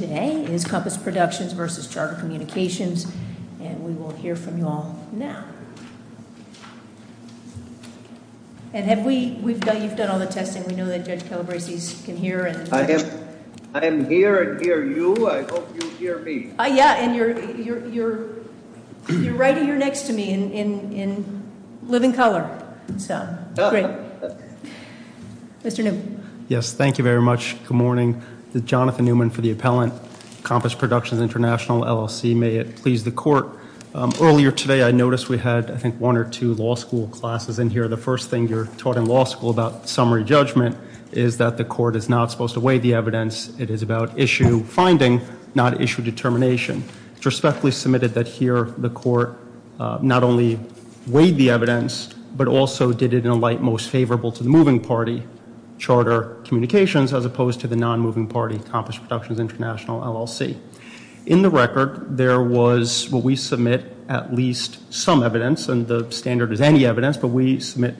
Today is Compass Productions versus Charter Communications, and we will hear from you all now. And have we, you've done all the testing, we know that Judge Calabresi can hear and- I am here and hear you, I hope you hear me. Yeah, and you're right here next to me in living color, so great. Mr. Newman. Yes, thank you very much, good morning. This is Jonathan Newman for the Appellant, Compass Productions International, LLC. May it please the court. Earlier today, I noticed we had, I think, one or two law school classes in here. The first thing you're taught in law school about summary judgment is that the court is not supposed to weigh the evidence. It is about issue finding, not issue determination. But also, did it in a light most favorable to the moving party, Charter Communications, as opposed to the non-moving party, Compass Productions International, LLC. In the record, there was, what we submit, at least some evidence, and the standard is any evidence, but we submit-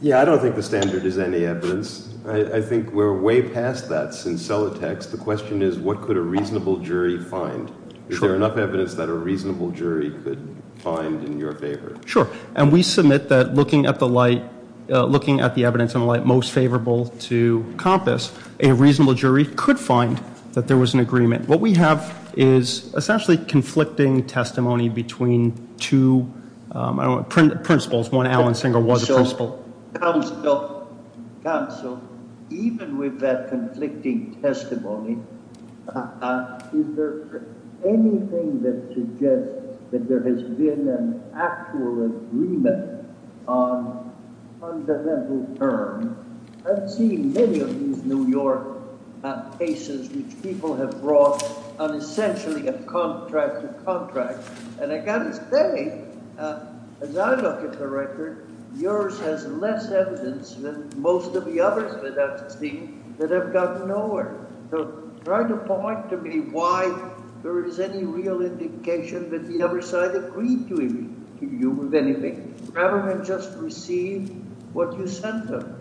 Yeah, I don't think the standard is any evidence. I think we're way past that since Celatex. The question is, what could a reasonable jury find? Is there enough evidence that a reasonable jury could find in your favor? Sure, and we submit that looking at the light, looking at the evidence in light most favorable to Compass, a reasonable jury could find that there was an agreement. What we have is essentially conflicting testimony between two principals. One, Alan Singer, was a principal. Counsel, even with that conflicting testimony, is there anything that suggests that there has been an actual agreement on fundamental terms? I've seen many of these New York cases which people have brought on essentially a contract to contract, and I've got to say, as I look at the record, yours has less evidence than most of the others that I've seen that have gotten nowhere. So, try to point to me why there is any real indication that the other side agreed to you with anything, rather than just receive what you sent them.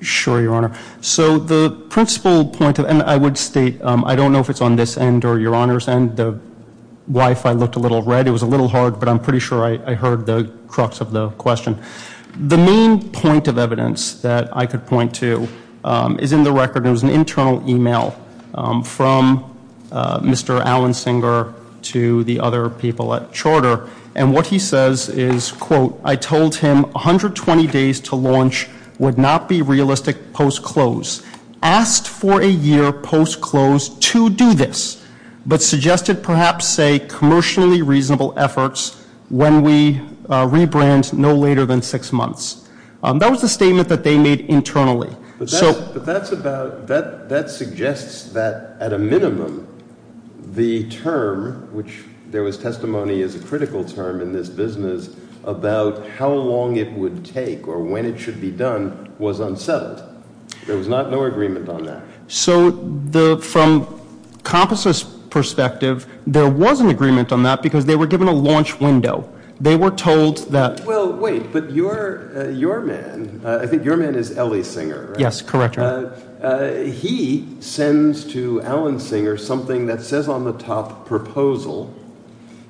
Sure, Your Honor. So, the principal point, and I would state, I don't know if it's on this end or Your Honor's end. The Wi-Fi looked a little red. It was a little hard, but I'm pretty sure I heard the crux of the question. The main point of evidence that I could point to is in the record. It was an internal email from Mr. Alan Singer to the other people at charter. And what he says is, quote, I told him 120 days to launch would not be realistic post-close. Asked for a year post-close to do this, but suggested perhaps say commercially reasonable efforts when we rebrand no later than six months. That was the statement that they made internally. So- But that's about, that suggests that at a minimum the term, which there was testimony as a critical term in this business about how long it would take or when it should be done, was unsettled. There was no agreement on that. So, from Composite's perspective, there was an agreement on that because they were given a launch window. They were told that- Well, wait, but your man, I think your man is Ellie Singer, right? Yes, correct, Your Honor. He sends to Alan Singer something that says on the top proposal.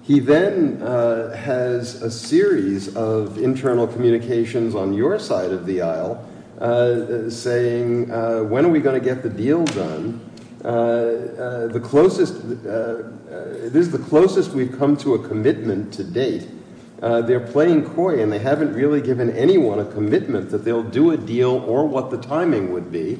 He then has a series of internal communications on your side of the aisle saying when are we going to get the deal done? The closest, this is the closest we've come to a commitment to date. They're playing coy and they haven't really given anyone a commitment that they'll do a deal or what the timing would be.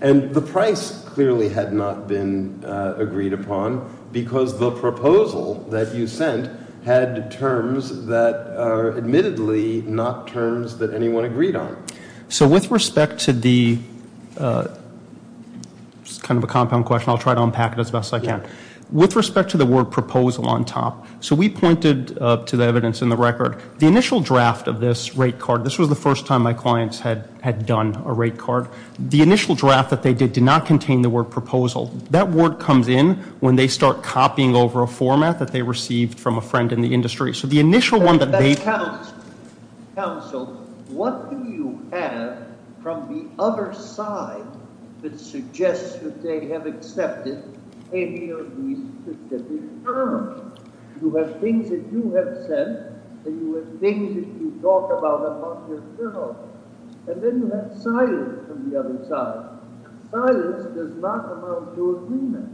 And the price clearly had not been agreed upon because the proposal that you sent had terms that are admittedly not terms that anyone agreed on. So with respect to the, it's kind of a compound question, I'll try to unpack it as best I can. With respect to the word proposal on top, so we pointed to the evidence in the record. The initial draft of this rate card, this was the first time my clients had done a rate card. The initial draft that they did did not contain the word proposal. That word comes in when they start copying over a format that they received from a friend in the industry. So the initial one that they- Counsel, what do you have from the other side that suggests that they have accepted any of these terms? You have things that you have said and you have things that you've talked about about yourself. And then you have silence from the other side. Silence does not amount to agreement.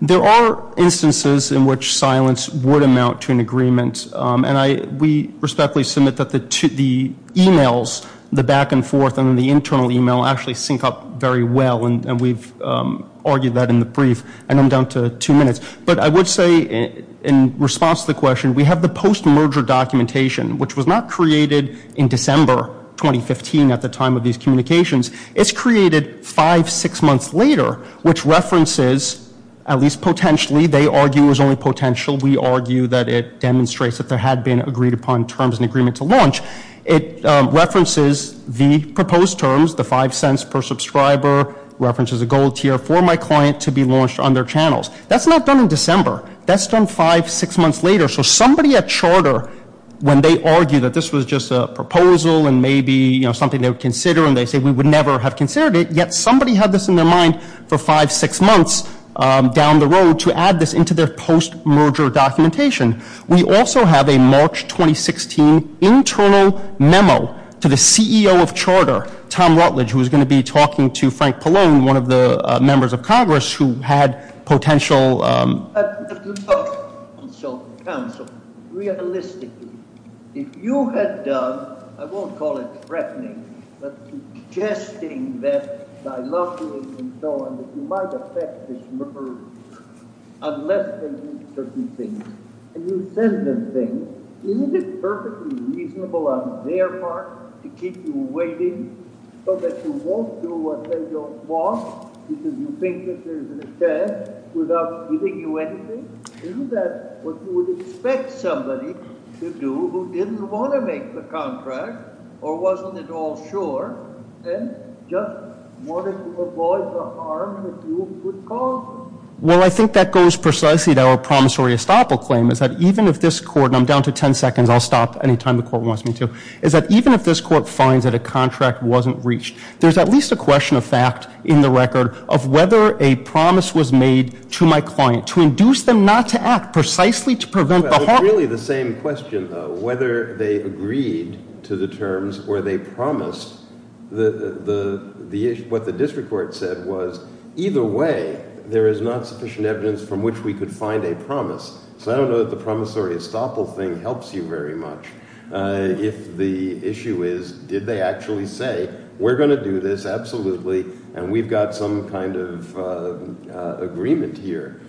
There are instances in which silence would amount to an agreement. And we respectfully submit that the emails, the back and forth and the internal email actually sync up very well. And we've argued that in the brief. And I'm down to two minutes. But I would say in response to the question, we have the post-merger documentation, which was not created in December 2015 at the time of these communications. It's created five, six months later, which references, at least potentially, they argue is only potential. We argue that it demonstrates that there had been agreed upon terms and agreement to launch. It references the proposed terms, the five cents per subscriber, references a gold tier for my client to be launched on their channels. That's not done in December. That's done five, six months later. So somebody at Charter, when they argue that this was just a proposal and maybe something they would consider, and they say we would never have considered it. Yet somebody had this in their mind for five, six months down the road to add this into their post-merger documentation. We also have a March 2016 internal memo to the CEO of Charter, Tom Rutledge, who is going to be talking to Frank Pallone, one of the members of Congress who had potential. I'd like to talk on self-counsel. Realistically, if you had done, I won't call it threatening, but suggesting that I love you and so on, that you might affect this merger unless they do certain things, and you send them things, isn't it perfectly reasonable on their part to keep you waiting so that you won't do what they don't want because you think that there's an attempt without giving you anything? Isn't that what you would expect somebody to do who didn't want to make the contract or wasn't at all sure and just wanted to avoid the harm that you would cause? Well, I think that goes precisely to our promissory estoppel claim, is that even if this court, and I'm down to ten seconds, I'll stop anytime the court wants me to, is that even if this court finds that a contract wasn't reached, there's at least a question of fact in the record of whether a promise was made to my client, to induce them not to act precisely to prevent the harm. Well, it's really the same question, though, whether they agreed to the terms or they promised what the district court said was either way, there is not sufficient evidence from which we could find a promise. So I don't know that the promissory estoppel thing helps you very much. If the issue is, did they actually say, we're going to do this, absolutely, and we've got some kind of agreement here,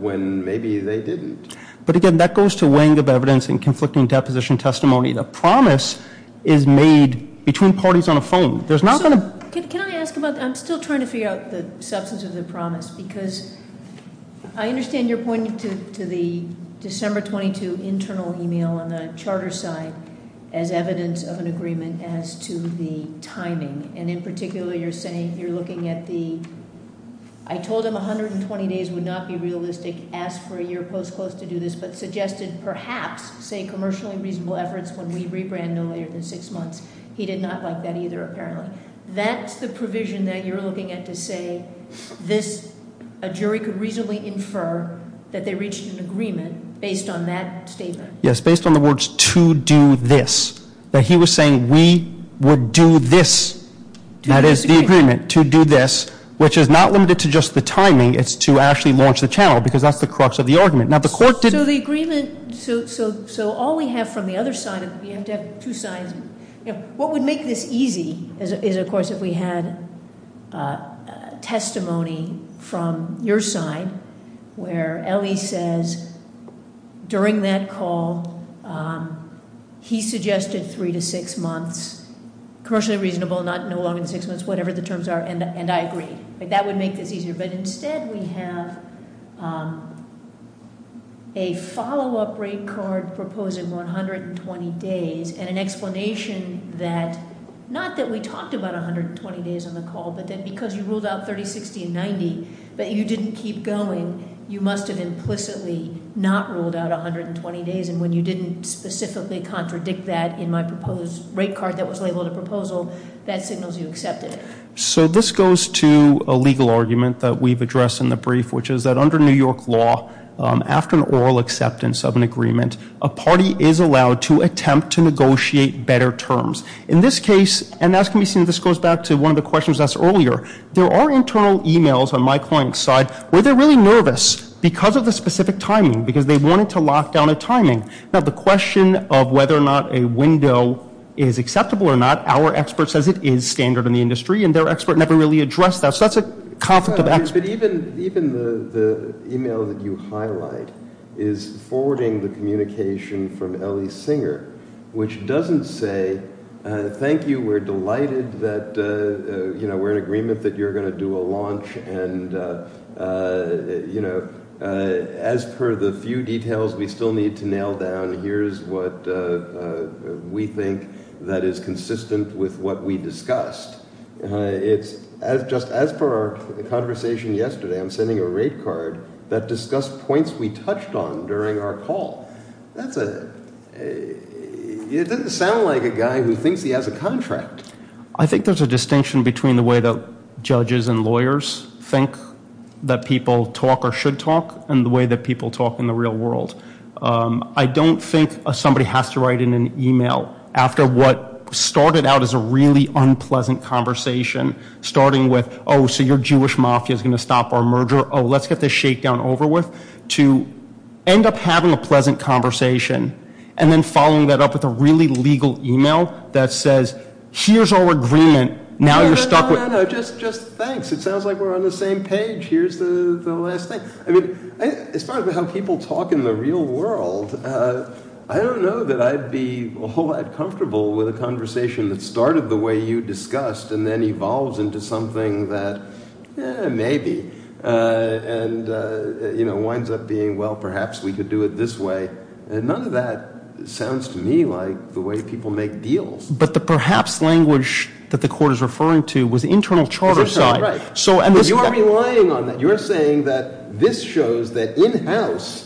when maybe they didn't. But again, that goes to weighing of evidence and conflicting deposition testimony. The promise is made between parties on a phone. There's not going to- So, can I ask about, I'm still trying to figure out the substance of the promise, because I understand you're pointing to the December 22 internal email on the charter side, as evidence of an agreement as to the timing, and in particular, you're saying you're looking at the, I told him 120 days would not be realistic, asked for a year post-close to do this, but suggested perhaps say commercially reasonable efforts when we rebrand no later than six months. He did not like that either, apparently. That's the provision that you're looking at to say this, a jury could reasonably infer that they reached an agreement based on that statement. Yes, based on the words to do this. That he was saying we would do this, that is the agreement to do this, which is not limited to just the timing, it's to actually launch the channel, because that's the crux of the argument. Now the court did- So the agreement, so all we have from the other side, we have to have two sides. What would make this easy is, of course, if we had testimony from your side, where Ellie says, during that call, he suggested three to six months. Commercially reasonable, not no longer than six months, whatever the terms are, and I agree. That would make this easier, but instead we have a follow-up rate card proposing 120 days, and an explanation that, not that we talked about 120 days on the call, but then because you ruled out 30, 60, and 90, but you didn't keep going. You must have implicitly not ruled out 120 days, and when you didn't specifically contradict that in my proposed rate card that was labeled a proposal, that signals you accepted it. So this goes to a legal argument that we've addressed in the brief, which is that under New York law, after an oral acceptance of an agreement, a party is allowed to attempt to negotiate better terms. In this case, and as can be seen, this goes back to one of the questions asked earlier, there are internal emails on my client's side where they're really nervous because of the specific timing, because they wanted to lock down a timing. Now the question of whether or not a window is acceptable or not, our expert says it is standard in the industry, and their expert never really addressed that, so that's a conflict of experts. But even the email that you highlight is forwarding the communication from Ellie Singer, which doesn't say, thank you, we're delighted that we're in agreement that you're going to do a launch, and as per the few details we still need to nail down, here's what we think that is consistent with what we discussed. It's just as per our conversation yesterday, I'm sending a rate card that discussed points we touched on during our call. That's a, it doesn't sound like a guy who thinks he has a contract. I think there's a distinction between the way that judges and lawyers think that people talk or should talk, and the way that people talk in the real world. I don't think somebody has to write in an email after what started out as a really unpleasant conversation, starting with, oh, so your Jewish mafia is going to stop our merger, oh, let's get this shakedown over with, to end up having a pleasant conversation, and then following that up with a really legal email that says, here's our agreement, now you're stuck with- No, no, no, no, just thanks. It sounds like we're on the same page. Here's the last thing. I mean, as far as how people talk in the real world, I don't know that I'd be all that comfortable with a conversation that started the way you discussed, and then evolves into something that, maybe, and winds up being, well, perhaps we could do it this way. And none of that sounds to me like the way people make deals. But the perhaps language that the court is referring to was the internal charter side. Right, but you are relying on that. You're saying that this shows that in-house,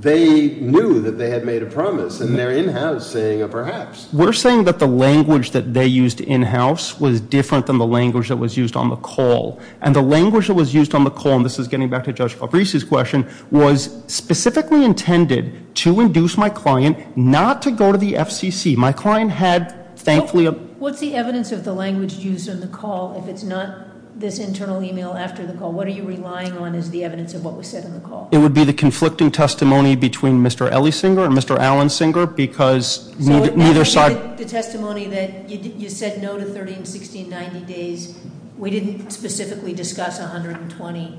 they knew that they had made a promise, and they're in-house saying a perhaps. We're saying that the language that they used in-house was different than the language that was used on the call. And the language that was used on the call, and this is getting back to Judge Fabrice's question, was specifically intended to induce my client not to go to the FCC. My client had, thankfully- What's the evidence of the language used on the call, if it's not this internal email after the call? What are you relying on as the evidence of what was said on the call? It would be the conflicting testimony between Mr. Ellisinger and Mr. Allensinger, because neither side- The testimony that you said no to 13, 16, 90 days. We didn't specifically discuss 120,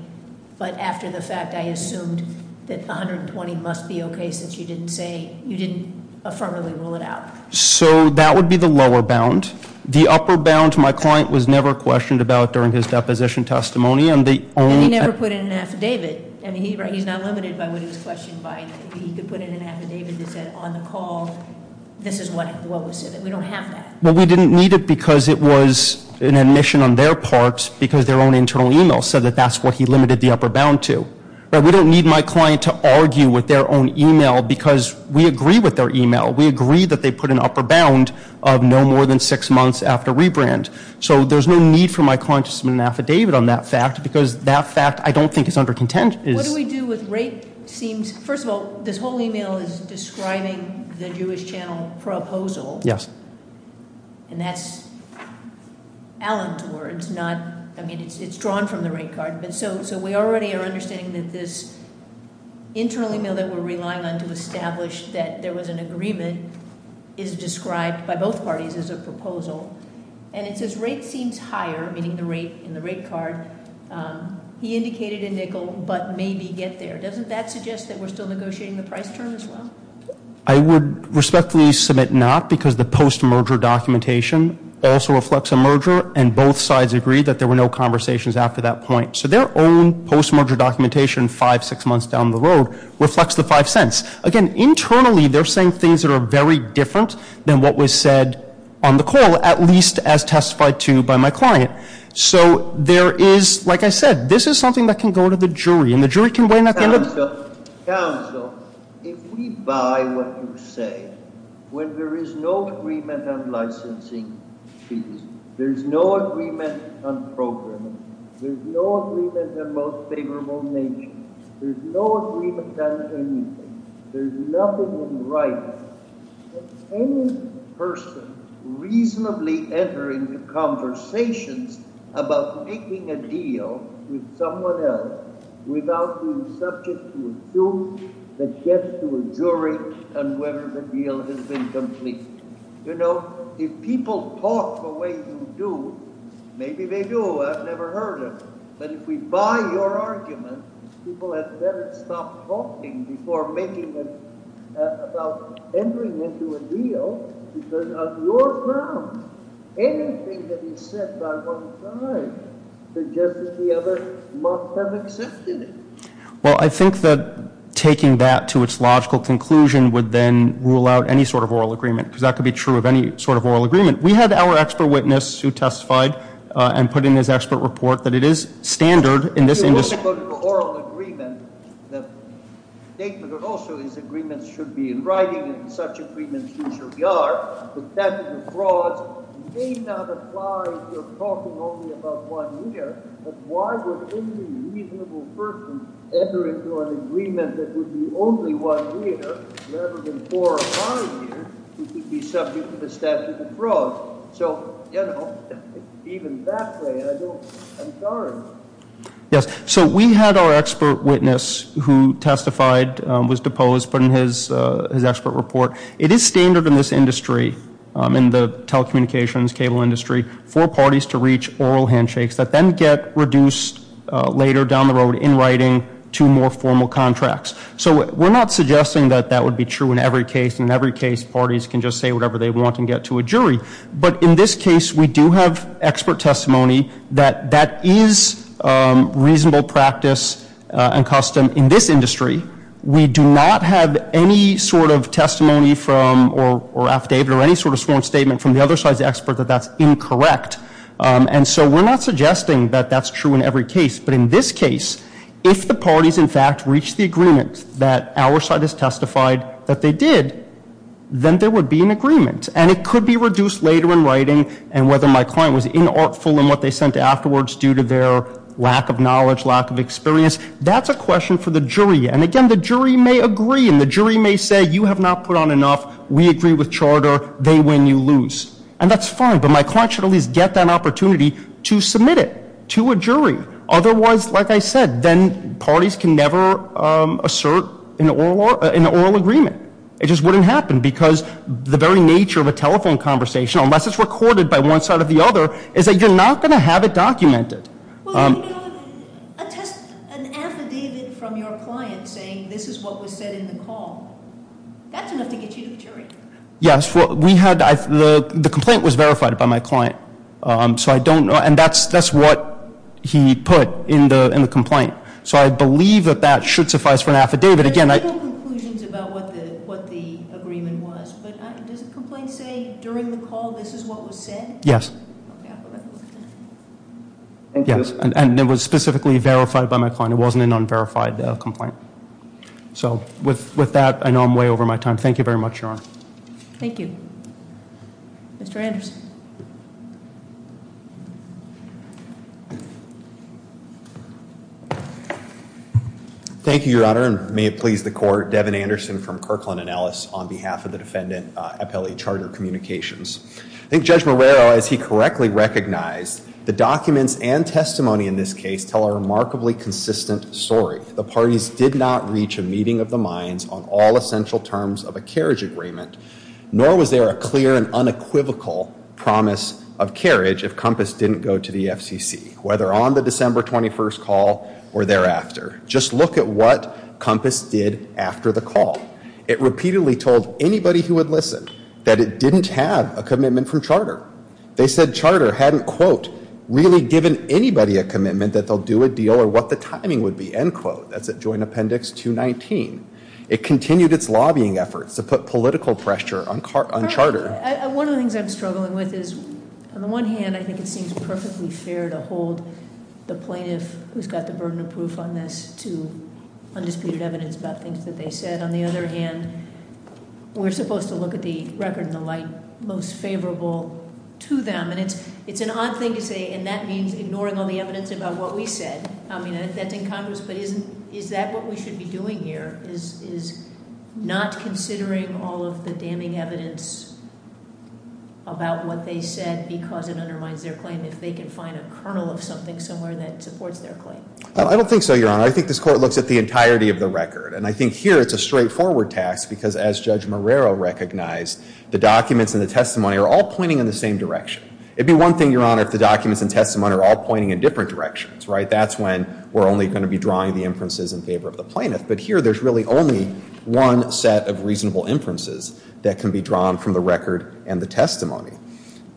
but after the fact, I assumed that 120 must be okay, since you didn't affirmatively rule it out. So that would be the lower bound. The upper bound, my client was never questioned about during his deposition testimony, and the only- And he never put in an affidavit, and he's not limited by what he was questioned by. He could put in an affidavit that said, on the call, this is what was said. We don't have that. Well, we didn't need it because it was an admission on their part, because their own internal email said that that's what he limited the upper bound to. But we don't need my client to argue with their own email, because we agree with their email. We agree that they put an upper bound of no more than six months after rebrand. So there's no need for my client to submit an affidavit on that fact, because that fact, I don't think, is under contention. What do we do with rate seems, first of all, this whole email is describing the Jewish Channel proposal. Yes. And that's Alan towards not, I mean, it's drawn from the rate card. And so we already are understanding that this internally mail that we're relying on to establish that there was an agreement is described by both parties as a proposal, and it says rate seems higher, meaning the rate in the rate card. He indicated a nickel, but maybe get there. Doesn't that suggest that we're still negotiating the price term as well? I would respectfully submit not, because the post-merger documentation also reflects a merger, and both sides agree that there were no conversations after that point. So their own post-merger documentation, five, six months down the road, reflects the five cents. Again, internally, they're saying things that are very different than what was said on the call, at least as testified to by my client. So there is, like I said, this is something that can go to the jury, and the jury can weigh in at the end of. Counsel, if we buy what you say, when there is no agreement on licensing fees, there's no agreement on programming, there's no agreement on most favorable nature, there's no agreement on anything, there's nothing in writing, can any person reasonably enter into conversations about making a deal with someone else without being subject to a suit that gets to a jury and whether the deal has been completed? You know, if people talk the way you do, maybe they do. I've never heard of it. But if we buy your argument, people have better stop talking before making a, about entering into a deal, because of your grounds, anything that is said by one side suggests that the other must have accepted it. Well, I think that taking that to its logical conclusion would then rule out any sort of oral agreement, because that could be true of any sort of oral agreement. We had our expert witness who testified and put in his expert report that it is standard in this industry- If you're talking about an oral agreement, the statement that also these agreements should be in writing and such agreements usually are, the statute of frauds may not apply if you're talking only about one year, but why would any reasonable person ever enter into an agreement that would be only one year rather than four or five years who could be subject to the statute of frauds? So, you know, even that way, I'm sorry. Yes, so we had our expert witness who testified, was deposed, put in his expert report. It is standard in this industry, in the telecommunications cable industry, for parties to reach oral handshakes that then get reduced later down the road in writing to more formal contracts. So we're not suggesting that that would be true in every case. In every case, parties can just say whatever they want and get to a jury. But in this case, we do have expert testimony that that is reasonable practice and custom in this industry. We do not have any sort of testimony from or affidavit or any sort of sworn statement from the other side's expert that that's incorrect. And so we're not suggesting that that's true in every case. But in this case, if the parties, in fact, reach the agreement that our side has testified that they did, then there would be an agreement and it could be reduced later in writing. And whether my client was inartful in what they sent afterwards due to their lack of knowledge, lack of experience, that's a question for the jury. And again, the jury may agree and the jury may say you have not put on enough. We agree with charter. They win. You lose. And that's fine. But my client should at least get that opportunity to submit it to a jury. Otherwise, like I said, then parties can never assert an oral agreement. It just wouldn't happen because the very nature of a telephone conversation, unless it's recorded by one side or the other, is that you're not going to have it documented. Well, you know, attest an affidavit from your client saying this is what was said in the call. That's enough to get you to the jury. Yes, well, we had the complaint was verified by my client. So I don't know. And that's that's what he put in the complaint. So I believe that that should suffice for an affidavit. Again, I have no conclusions about what the what the agreement was. But does the complaint say during the call this is what was said? Yes. Yes. And it was specifically verified by my client. It wasn't an unverified complaint. So with with that, I know I'm way over my time. Thank you very much, Your Honor. Thank you. Mr. Anderson. Thank you, Your Honor, and may it please the court, Devin Anderson from Kirkland and Ellis on behalf of the defendant, appellee charter communications. I think Judge Marrero, as he correctly recognized, the documents and testimony in this case tell a remarkably consistent story. The parties did not reach a meeting of the minds on all essential terms of a carriage agreement, nor was there a clear and unequivocal promise of carriage. If Compass didn't go to the FCC, whether on the December 21st call or thereafter, just look at what Compass did after the call. It repeatedly told anybody who would listen that it didn't have a commitment from charter. They said charter hadn't, quote, really given anybody a commitment that they'll do a deal or what the timing would be. End quote. That's a joint appendix to 19. It continued its lobbying efforts to put political pressure on on charter. One of the things I'm struggling with is on the one hand, I think it seems perfectly fair to hold the plaintiff who's got the burden of proof on this to undisputed evidence about things that they said. On the other hand, we're supposed to look at the record and the light most favorable to them. And it's an odd thing to say, and that means ignoring all the evidence about what we said. I mean, that's in Congress, but is that what we should be doing here? Is not considering all of the damning evidence about what they said because it undermines their claim if they can find a kernel of something somewhere that supports their claim? I don't think so, Your Honor. I think this court looks at the entirety of the record. And I think here it's a straightforward task because as Judge Marrero recognized, the documents and the testimony are all pointing in the same direction. It'd be one thing, Your Honor, if the documents and testimony are all pointing in different directions, right? That's when we're only going to be drawing the inferences in favor of the plaintiff. But here there's really only one set of reasonable inferences that can be drawn from the record and the testimony.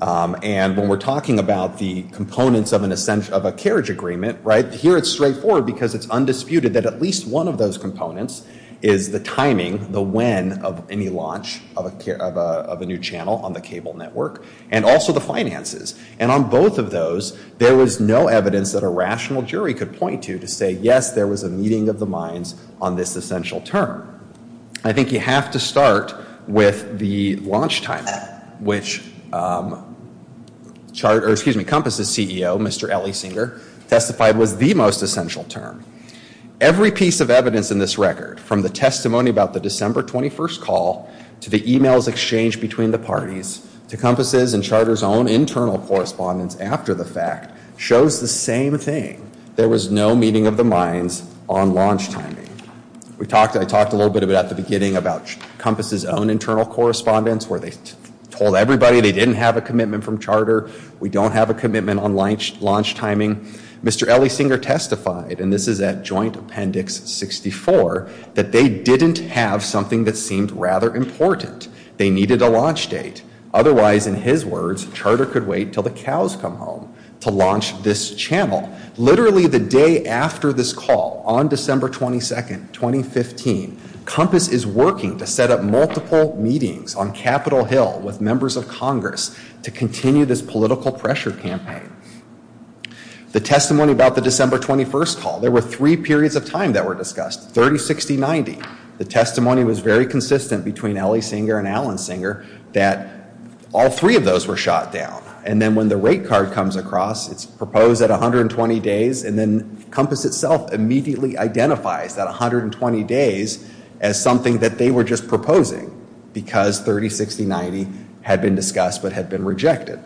And when we're talking about the components of a carriage agreement, right, here it's straightforward because it's undisputed that at least one of those components is the timing, the when of any launch of a new channel on the cable network, and also the finances. And on both of those, there was no evidence that a rational jury could point to to say, yes, there was a meeting of the minds on this essential term. I think you have to start with the launch timing, which Compass's CEO, Mr. Ellie Singer, testified was the most essential term. Every piece of evidence in this record, from the testimony about the December 21st call to the emails exchanged between the parties to Compass's and Charter's own internal correspondence after the fact, shows the same thing, there was no meeting of the minds on launch timing. I talked a little bit about at the beginning about Compass's own internal correspondence where they told everybody they didn't have a commitment from Charter. We don't have a commitment on launch timing. Mr. Ellie Singer testified, and this is at Joint Appendix 64, that they didn't have something that seemed rather important. They needed a launch date. Otherwise, in his words, Charter could wait until the cows come home to launch this channel. Literally the day after this call, on December 22nd, 2015, Compass is working to set up multiple meetings on Capitol Hill with members of Congress to continue this political pressure campaign. The testimony about the December 21st call, there were three periods of time that were discussed, 30, 60, 90. The testimony was very consistent between Ellie Singer and Alan Singer that all three of those were shot down. And then when the rate card comes across, it's proposed at 120 days. And then Compass itself immediately identifies that 120 days as something that they were just proposing because 30, 60, 90 had been discussed but had been rejected.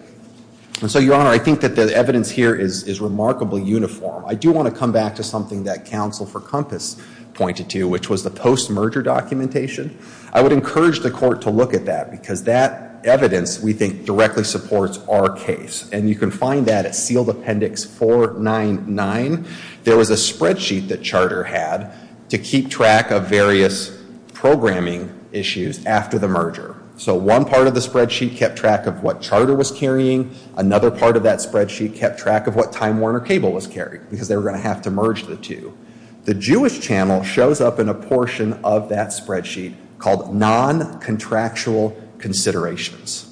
And so, Your Honor, I think that the evidence here is remarkably uniform. I do want to come back to something that counsel for Compass pointed to, which was the post-merger documentation. I would encourage the court to look at that because that evidence, we think, directly supports our case. And you can find that at sealed appendix 499. There was a spreadsheet that Charter had to keep track of various programming issues after the merger. So one part of the spreadsheet kept track of what Charter was carrying. Another part of that spreadsheet kept track of what Time Warner Cable was carrying because they were going to have to merge the two. The Jewish Channel shows up in a portion of that spreadsheet called non-contractual considerations.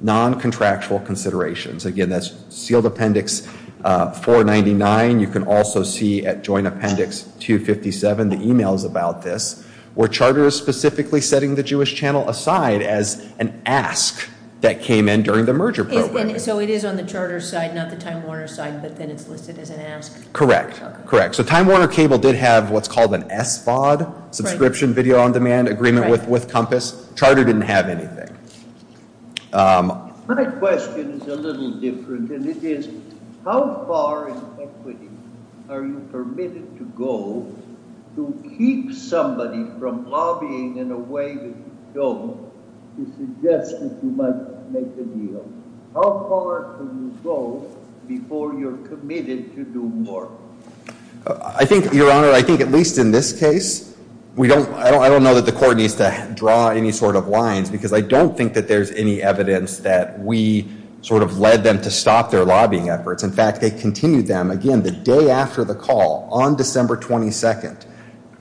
Non-contractual considerations. Again, that's sealed appendix 499. You can also see at joint appendix 257, the emails about this, where Charter is specifically setting the Jewish Channel aside as an ask that came in during the merger program. So it is on the Charter side, not the Time Warner side, but then it's listed as an ask? Correct. Correct. So Time Warner Cable did have what's called an SVOD, subscription video on demand agreement with Compass. Charter didn't have anything. My question is a little different, and it is how far in equity are you permitted to go to keep somebody from lobbying in a way that you don't to suggest that you might make a deal? How far can you go before you're committed to do more? I think, Your Honor, I think at least in this case, I don't know that the court needs to draw any sort of lines because I don't think that there's any evidence that we sort of led them to stop their lobbying efforts. In fact, they continued them. Again, the day after the call, on December 22nd,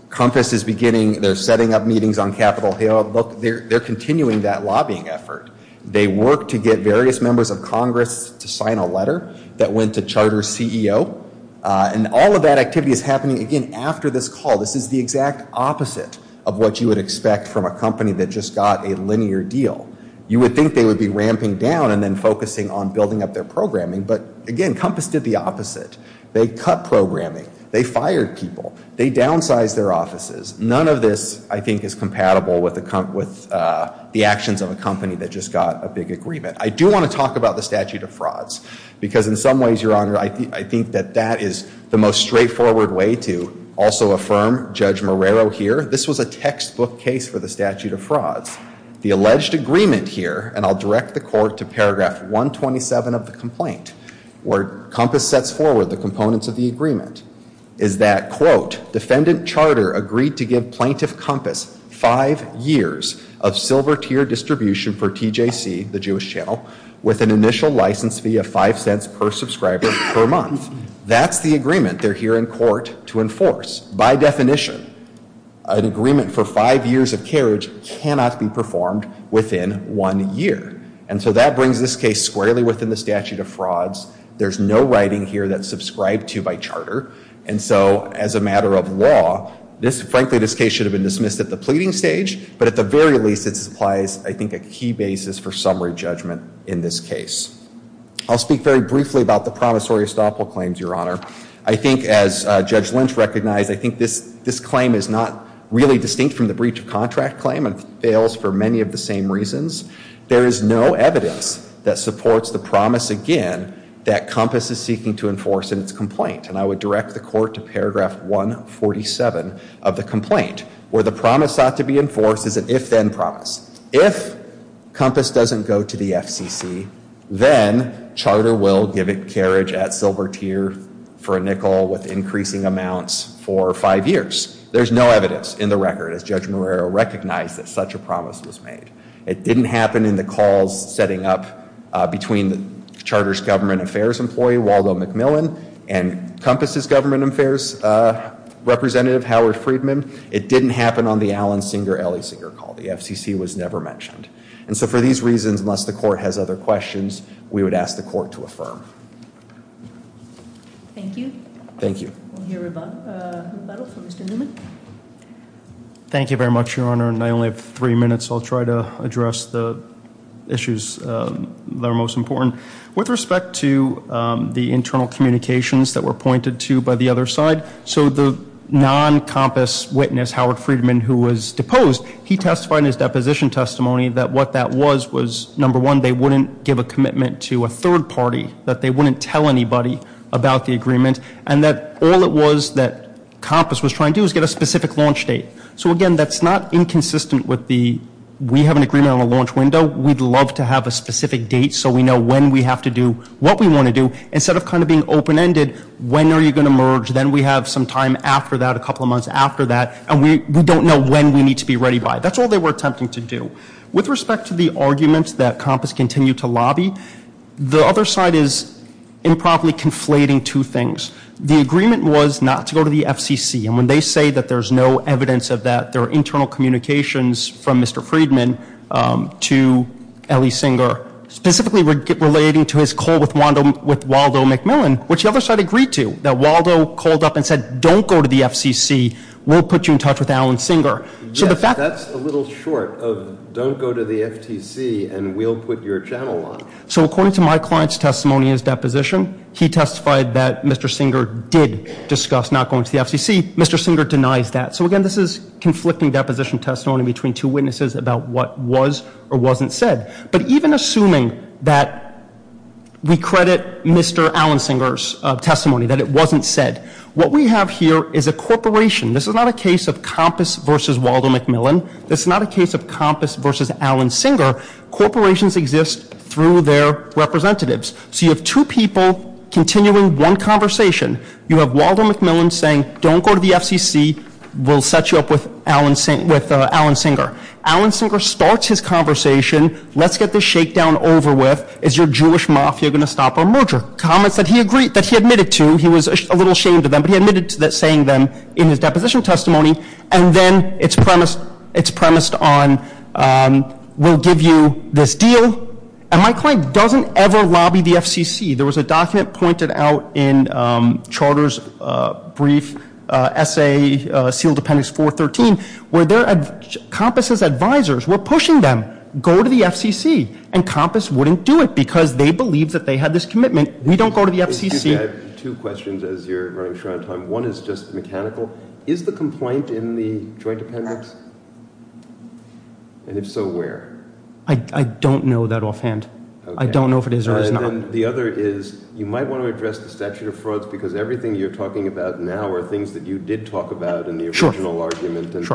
Compass is beginning, they're setting up meetings on Capitol Hill. Look, they're continuing that lobbying effort. They work to get various members of Congress to sign a letter that went to Charter's CEO. And all of that activity is happening, again, after this call. This is the exact opposite of what you would expect from a company that just got a linear deal. You would think they would be ramping down and then focusing on building up their programming. But again, Compass did the opposite. They cut programming. They fired people. They downsized their offices. None of this, I think, is compatible with the actions of a company that just got a big agreement. I do want to talk about the statute of frauds because in some ways, Your Honor, I think that that is the most straightforward way to also affirm Judge Marrero here. This was a textbook case for the statute of frauds. The alleged agreement here, and I'll direct the court to paragraph 127 of the complaint, where Compass sets forward the components of the agreement, is that, quote, defendant Charter agreed to give plaintiff Compass five years of silver tier distribution for TJC, the Jewish channel, with an initial license fee of five cents per subscriber per month. That's the agreement they're here in court to enforce. By definition, an agreement for five years of carriage cannot be performed within one year. And so that brings this case squarely within the statute of frauds. There's no writing here that's subscribed to by Charter. And so as a matter of law, frankly, this case should have been dismissed at the pleading stage. But at the very least, it supplies, I think, a key basis for summary judgment in this case. I'll speak very briefly about the promissory estoppel claims, Your Honor. I think, as Judge Lynch recognized, I think this claim is not really distinct from the breach of contract claim and fails for many of the same reasons. There is no evidence that supports the promise, again, that Compass is seeking to enforce in its complaint. And I would direct the court to paragraph 147 of the complaint, where the promise sought to be enforced is an if-then promise. If Compass doesn't go to the FCC, then Charter will give it carriage at silver tier for a nickel with increasing amounts for five years. There's no evidence in the record, as Judge Marrero recognized, that such a promise was made. It didn't happen in the calls setting up between Charter's government affairs employee, Waldo McMillan, and Compass's government affairs representative, Howard Friedman. It didn't happen on the Allen Singer-Ellisinger call. The FCC was never mentioned. And so for these reasons, unless the court has other questions, we would ask the court to affirm. Thank you. Thank you. We'll hear rebuttal from Mr. Newman. Thank you very much, Your Honor, and I only have three minutes. I'll try to address the issues that are most important. With respect to the internal communications that were pointed to by the other side, so the non-Compass witness, Howard Friedman, who was deposed, he testified in his deposition testimony that what that was was, number one, they wouldn't give a commitment to a third party, that they wouldn't tell anybody about the agreement, and that all it was that Compass was trying to do was get a specific launch date. So, again, that's not inconsistent with the we have an agreement on a launch window. We'd love to have a specific date so we know when we have to do what we want to do. Instead of kind of being open-ended, when are you going to merge? Then we have some time after that, a couple of months after that, and we don't know when we need to be ready by. That's all they were attempting to do. With respect to the arguments that Compass continued to lobby, the other side is improperly conflating two things. The agreement was not to go to the FCC, and when they say that there's no evidence of that, that there are internal communications from Mr. Friedman to Ellie Singer, specifically relating to his call with Waldo McMillan, which the other side agreed to, that Waldo called up and said, don't go to the FCC, we'll put you in touch with Alan Singer. Yes, that's a little short of don't go to the FCC and we'll put your channel on. So according to my client's testimony in his deposition, he testified that Mr. Singer did discuss not going to the FCC. Mr. Singer denies that. So, again, this is conflicting deposition testimony between two witnesses about what was or wasn't said. But even assuming that we credit Mr. Alan Singer's testimony, that it wasn't said, what we have here is a corporation. This is not a case of Compass versus Waldo McMillan. This is not a case of Compass versus Alan Singer. Corporations exist through their representatives. So you have two people continuing one conversation. You have Waldo McMillan saying, don't go to the FCC, we'll set you up with Alan Singer. Alan Singer starts his conversation, let's get this shakedown over with. Is your Jewish mafia going to stop our merger? Comments that he agreed, that he admitted to. He was a little ashamed of them, but he admitted to saying them in his deposition testimony. And then it's premised, it's premised on, we'll give you this deal. And my client doesn't ever lobby the FCC. There was a document pointed out in Charter's brief essay, Sealed Appendix 413, where Compass's advisors were pushing them, go to the FCC. And Compass wouldn't do it because they believed that they had this commitment. We don't go to the FCC. Excuse me, I have two questions as you're running short on time. One is just mechanical. Is the complaint in the Joint Appendix? And if so, where? I don't know that offhand. I don't know if it is or is not. And then the other is you might want to address the statute of frauds because everything you're talking about now are things that you did talk about in the original argument. And,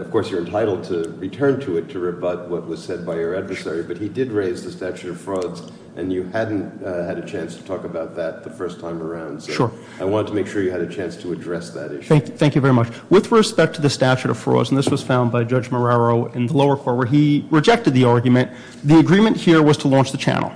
of course, you're entitled to return to it to rebut what was said by your adversary. But he did raise the statute of frauds, and you hadn't had a chance to talk about that the first time around. So I wanted to make sure you had a chance to address that issue. Thank you very much. With respect to the statute of frauds, and this was found by Judge Marrero in the lower court where he rejected the argument, the agreement here was to launch the channel.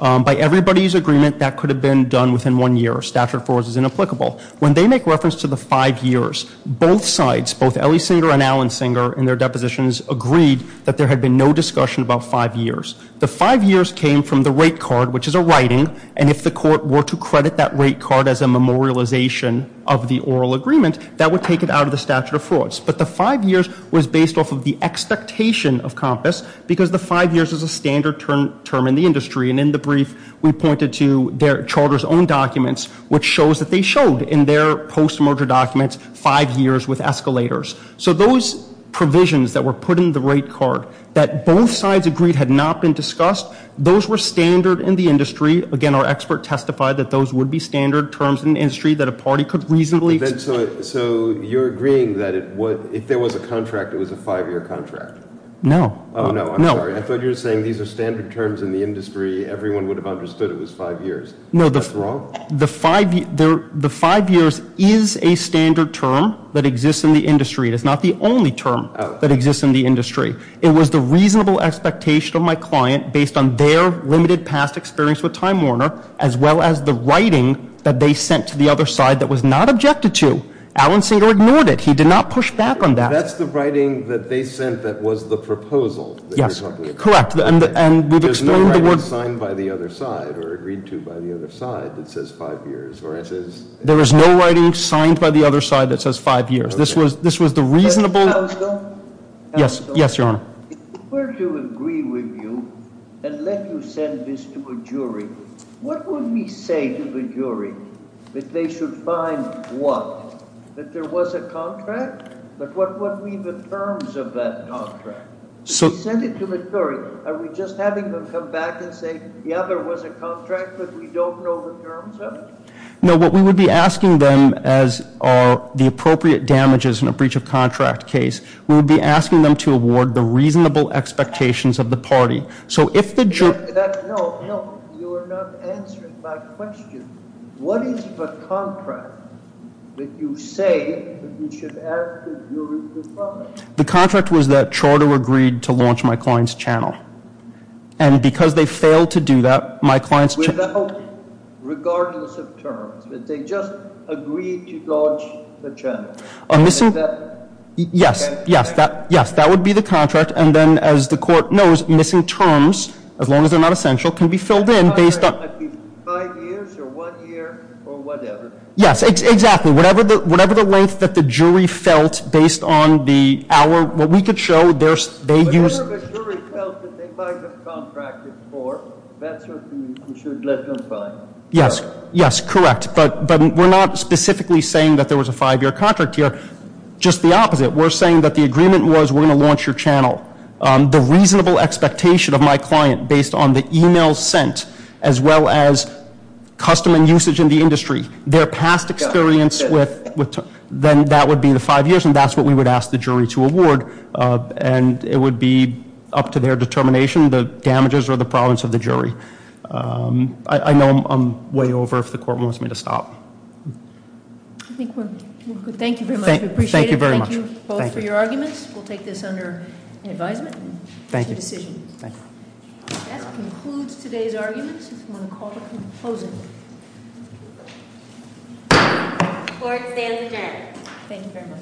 By everybody's agreement, that could have been done within one year. Statute of frauds is inapplicable. When they make reference to the five years, both sides, both Ellysinger and Allensinger in their depositions, agreed that there had been no discussion about five years. The five years came from the rate card, which is a writing, and if the court were to credit that rate card as a memorialization of the oral agreement, that would take it out of the statute of frauds. But the five years was based off of the expectation of COMPAS because the five years is a standard term in the industry. And in the brief, we pointed to their charter's own documents, which shows that they showed in their post-merger documents five years with escalators. So those provisions that were put in the rate card that both sides agreed had not been discussed, those were standard in the industry. Again, our expert testified that those would be standard terms in the industry that a party could reasonably. So you're agreeing that if there was a contract, it was a five-year contract? No. Oh, no, I'm sorry. I thought you were saying these are standard terms in the industry. Everyone would have understood it was five years. No. That's wrong. The five years is a standard term that exists in the industry. It is not the only term that exists in the industry. It was the reasonable expectation of my client based on their limited past experience with Time Warner as well as the writing that they sent to the other side that was not objected to. Allensinger ignored it. He did not push back on that. That's the writing that they sent that was the proposal that you're talking about? Yes, correct. There's no writing signed by the other side or agreed to by the other side that says five years? There is no writing signed by the other side that says five years. This was the reasonable- Counsel? Yes, Your Honor. If we were to agree with you and let you send this to a jury, what would we say to the jury that they should find what? That there was a contract? But what would be the terms of that contract? If we sent it to the jury, are we just having them come back and say, yeah, there was a contract, but we don't know the terms of it? No. What we would be asking them as are the appropriate damages in a breach of contract case, we would be asking them to award the reasonable expectations of the party. So if the jury- No, no. You are not answering my question. What is the contract that you say that we should ask the jury to find? The contract was that Charter agreed to launch my client's channel. And because they failed to do that, my client's channel- Without, regardless of terms, that they just agreed to launch the channel. A missing- Is that- Yes, yes. Yes, that would be the contract. And then, as the Court knows, missing terms, as long as they're not essential, can be filled in based on- It might be five years or one year or whatever. Yes, exactly. Whatever the length that the jury felt based on the hour, what we could show, they used- Whatever the jury felt that they might have contracted for, that's what we should let them find. Yes. Yes, correct. But we're not specifically saying that there was a five-year contract here. Just the opposite. We're saying that the agreement was we're going to launch your channel. The reasonable expectation of my client based on the email sent, as well as customer usage in the industry, their past experience with- Then that would be the five years, and that's what we would ask the jury to award. And it would be up to their determination, the damages or the province of the jury. I know I'm way over if the Court wants me to stop. Thank you very much. We appreciate it. Thank you very much. Thank you both for your arguments. We'll take this under advisement. Thank you. It's a decision. Thank you. That concludes today's arguments. If you want to call to- Close it. Court is adjourned. Thank you very much.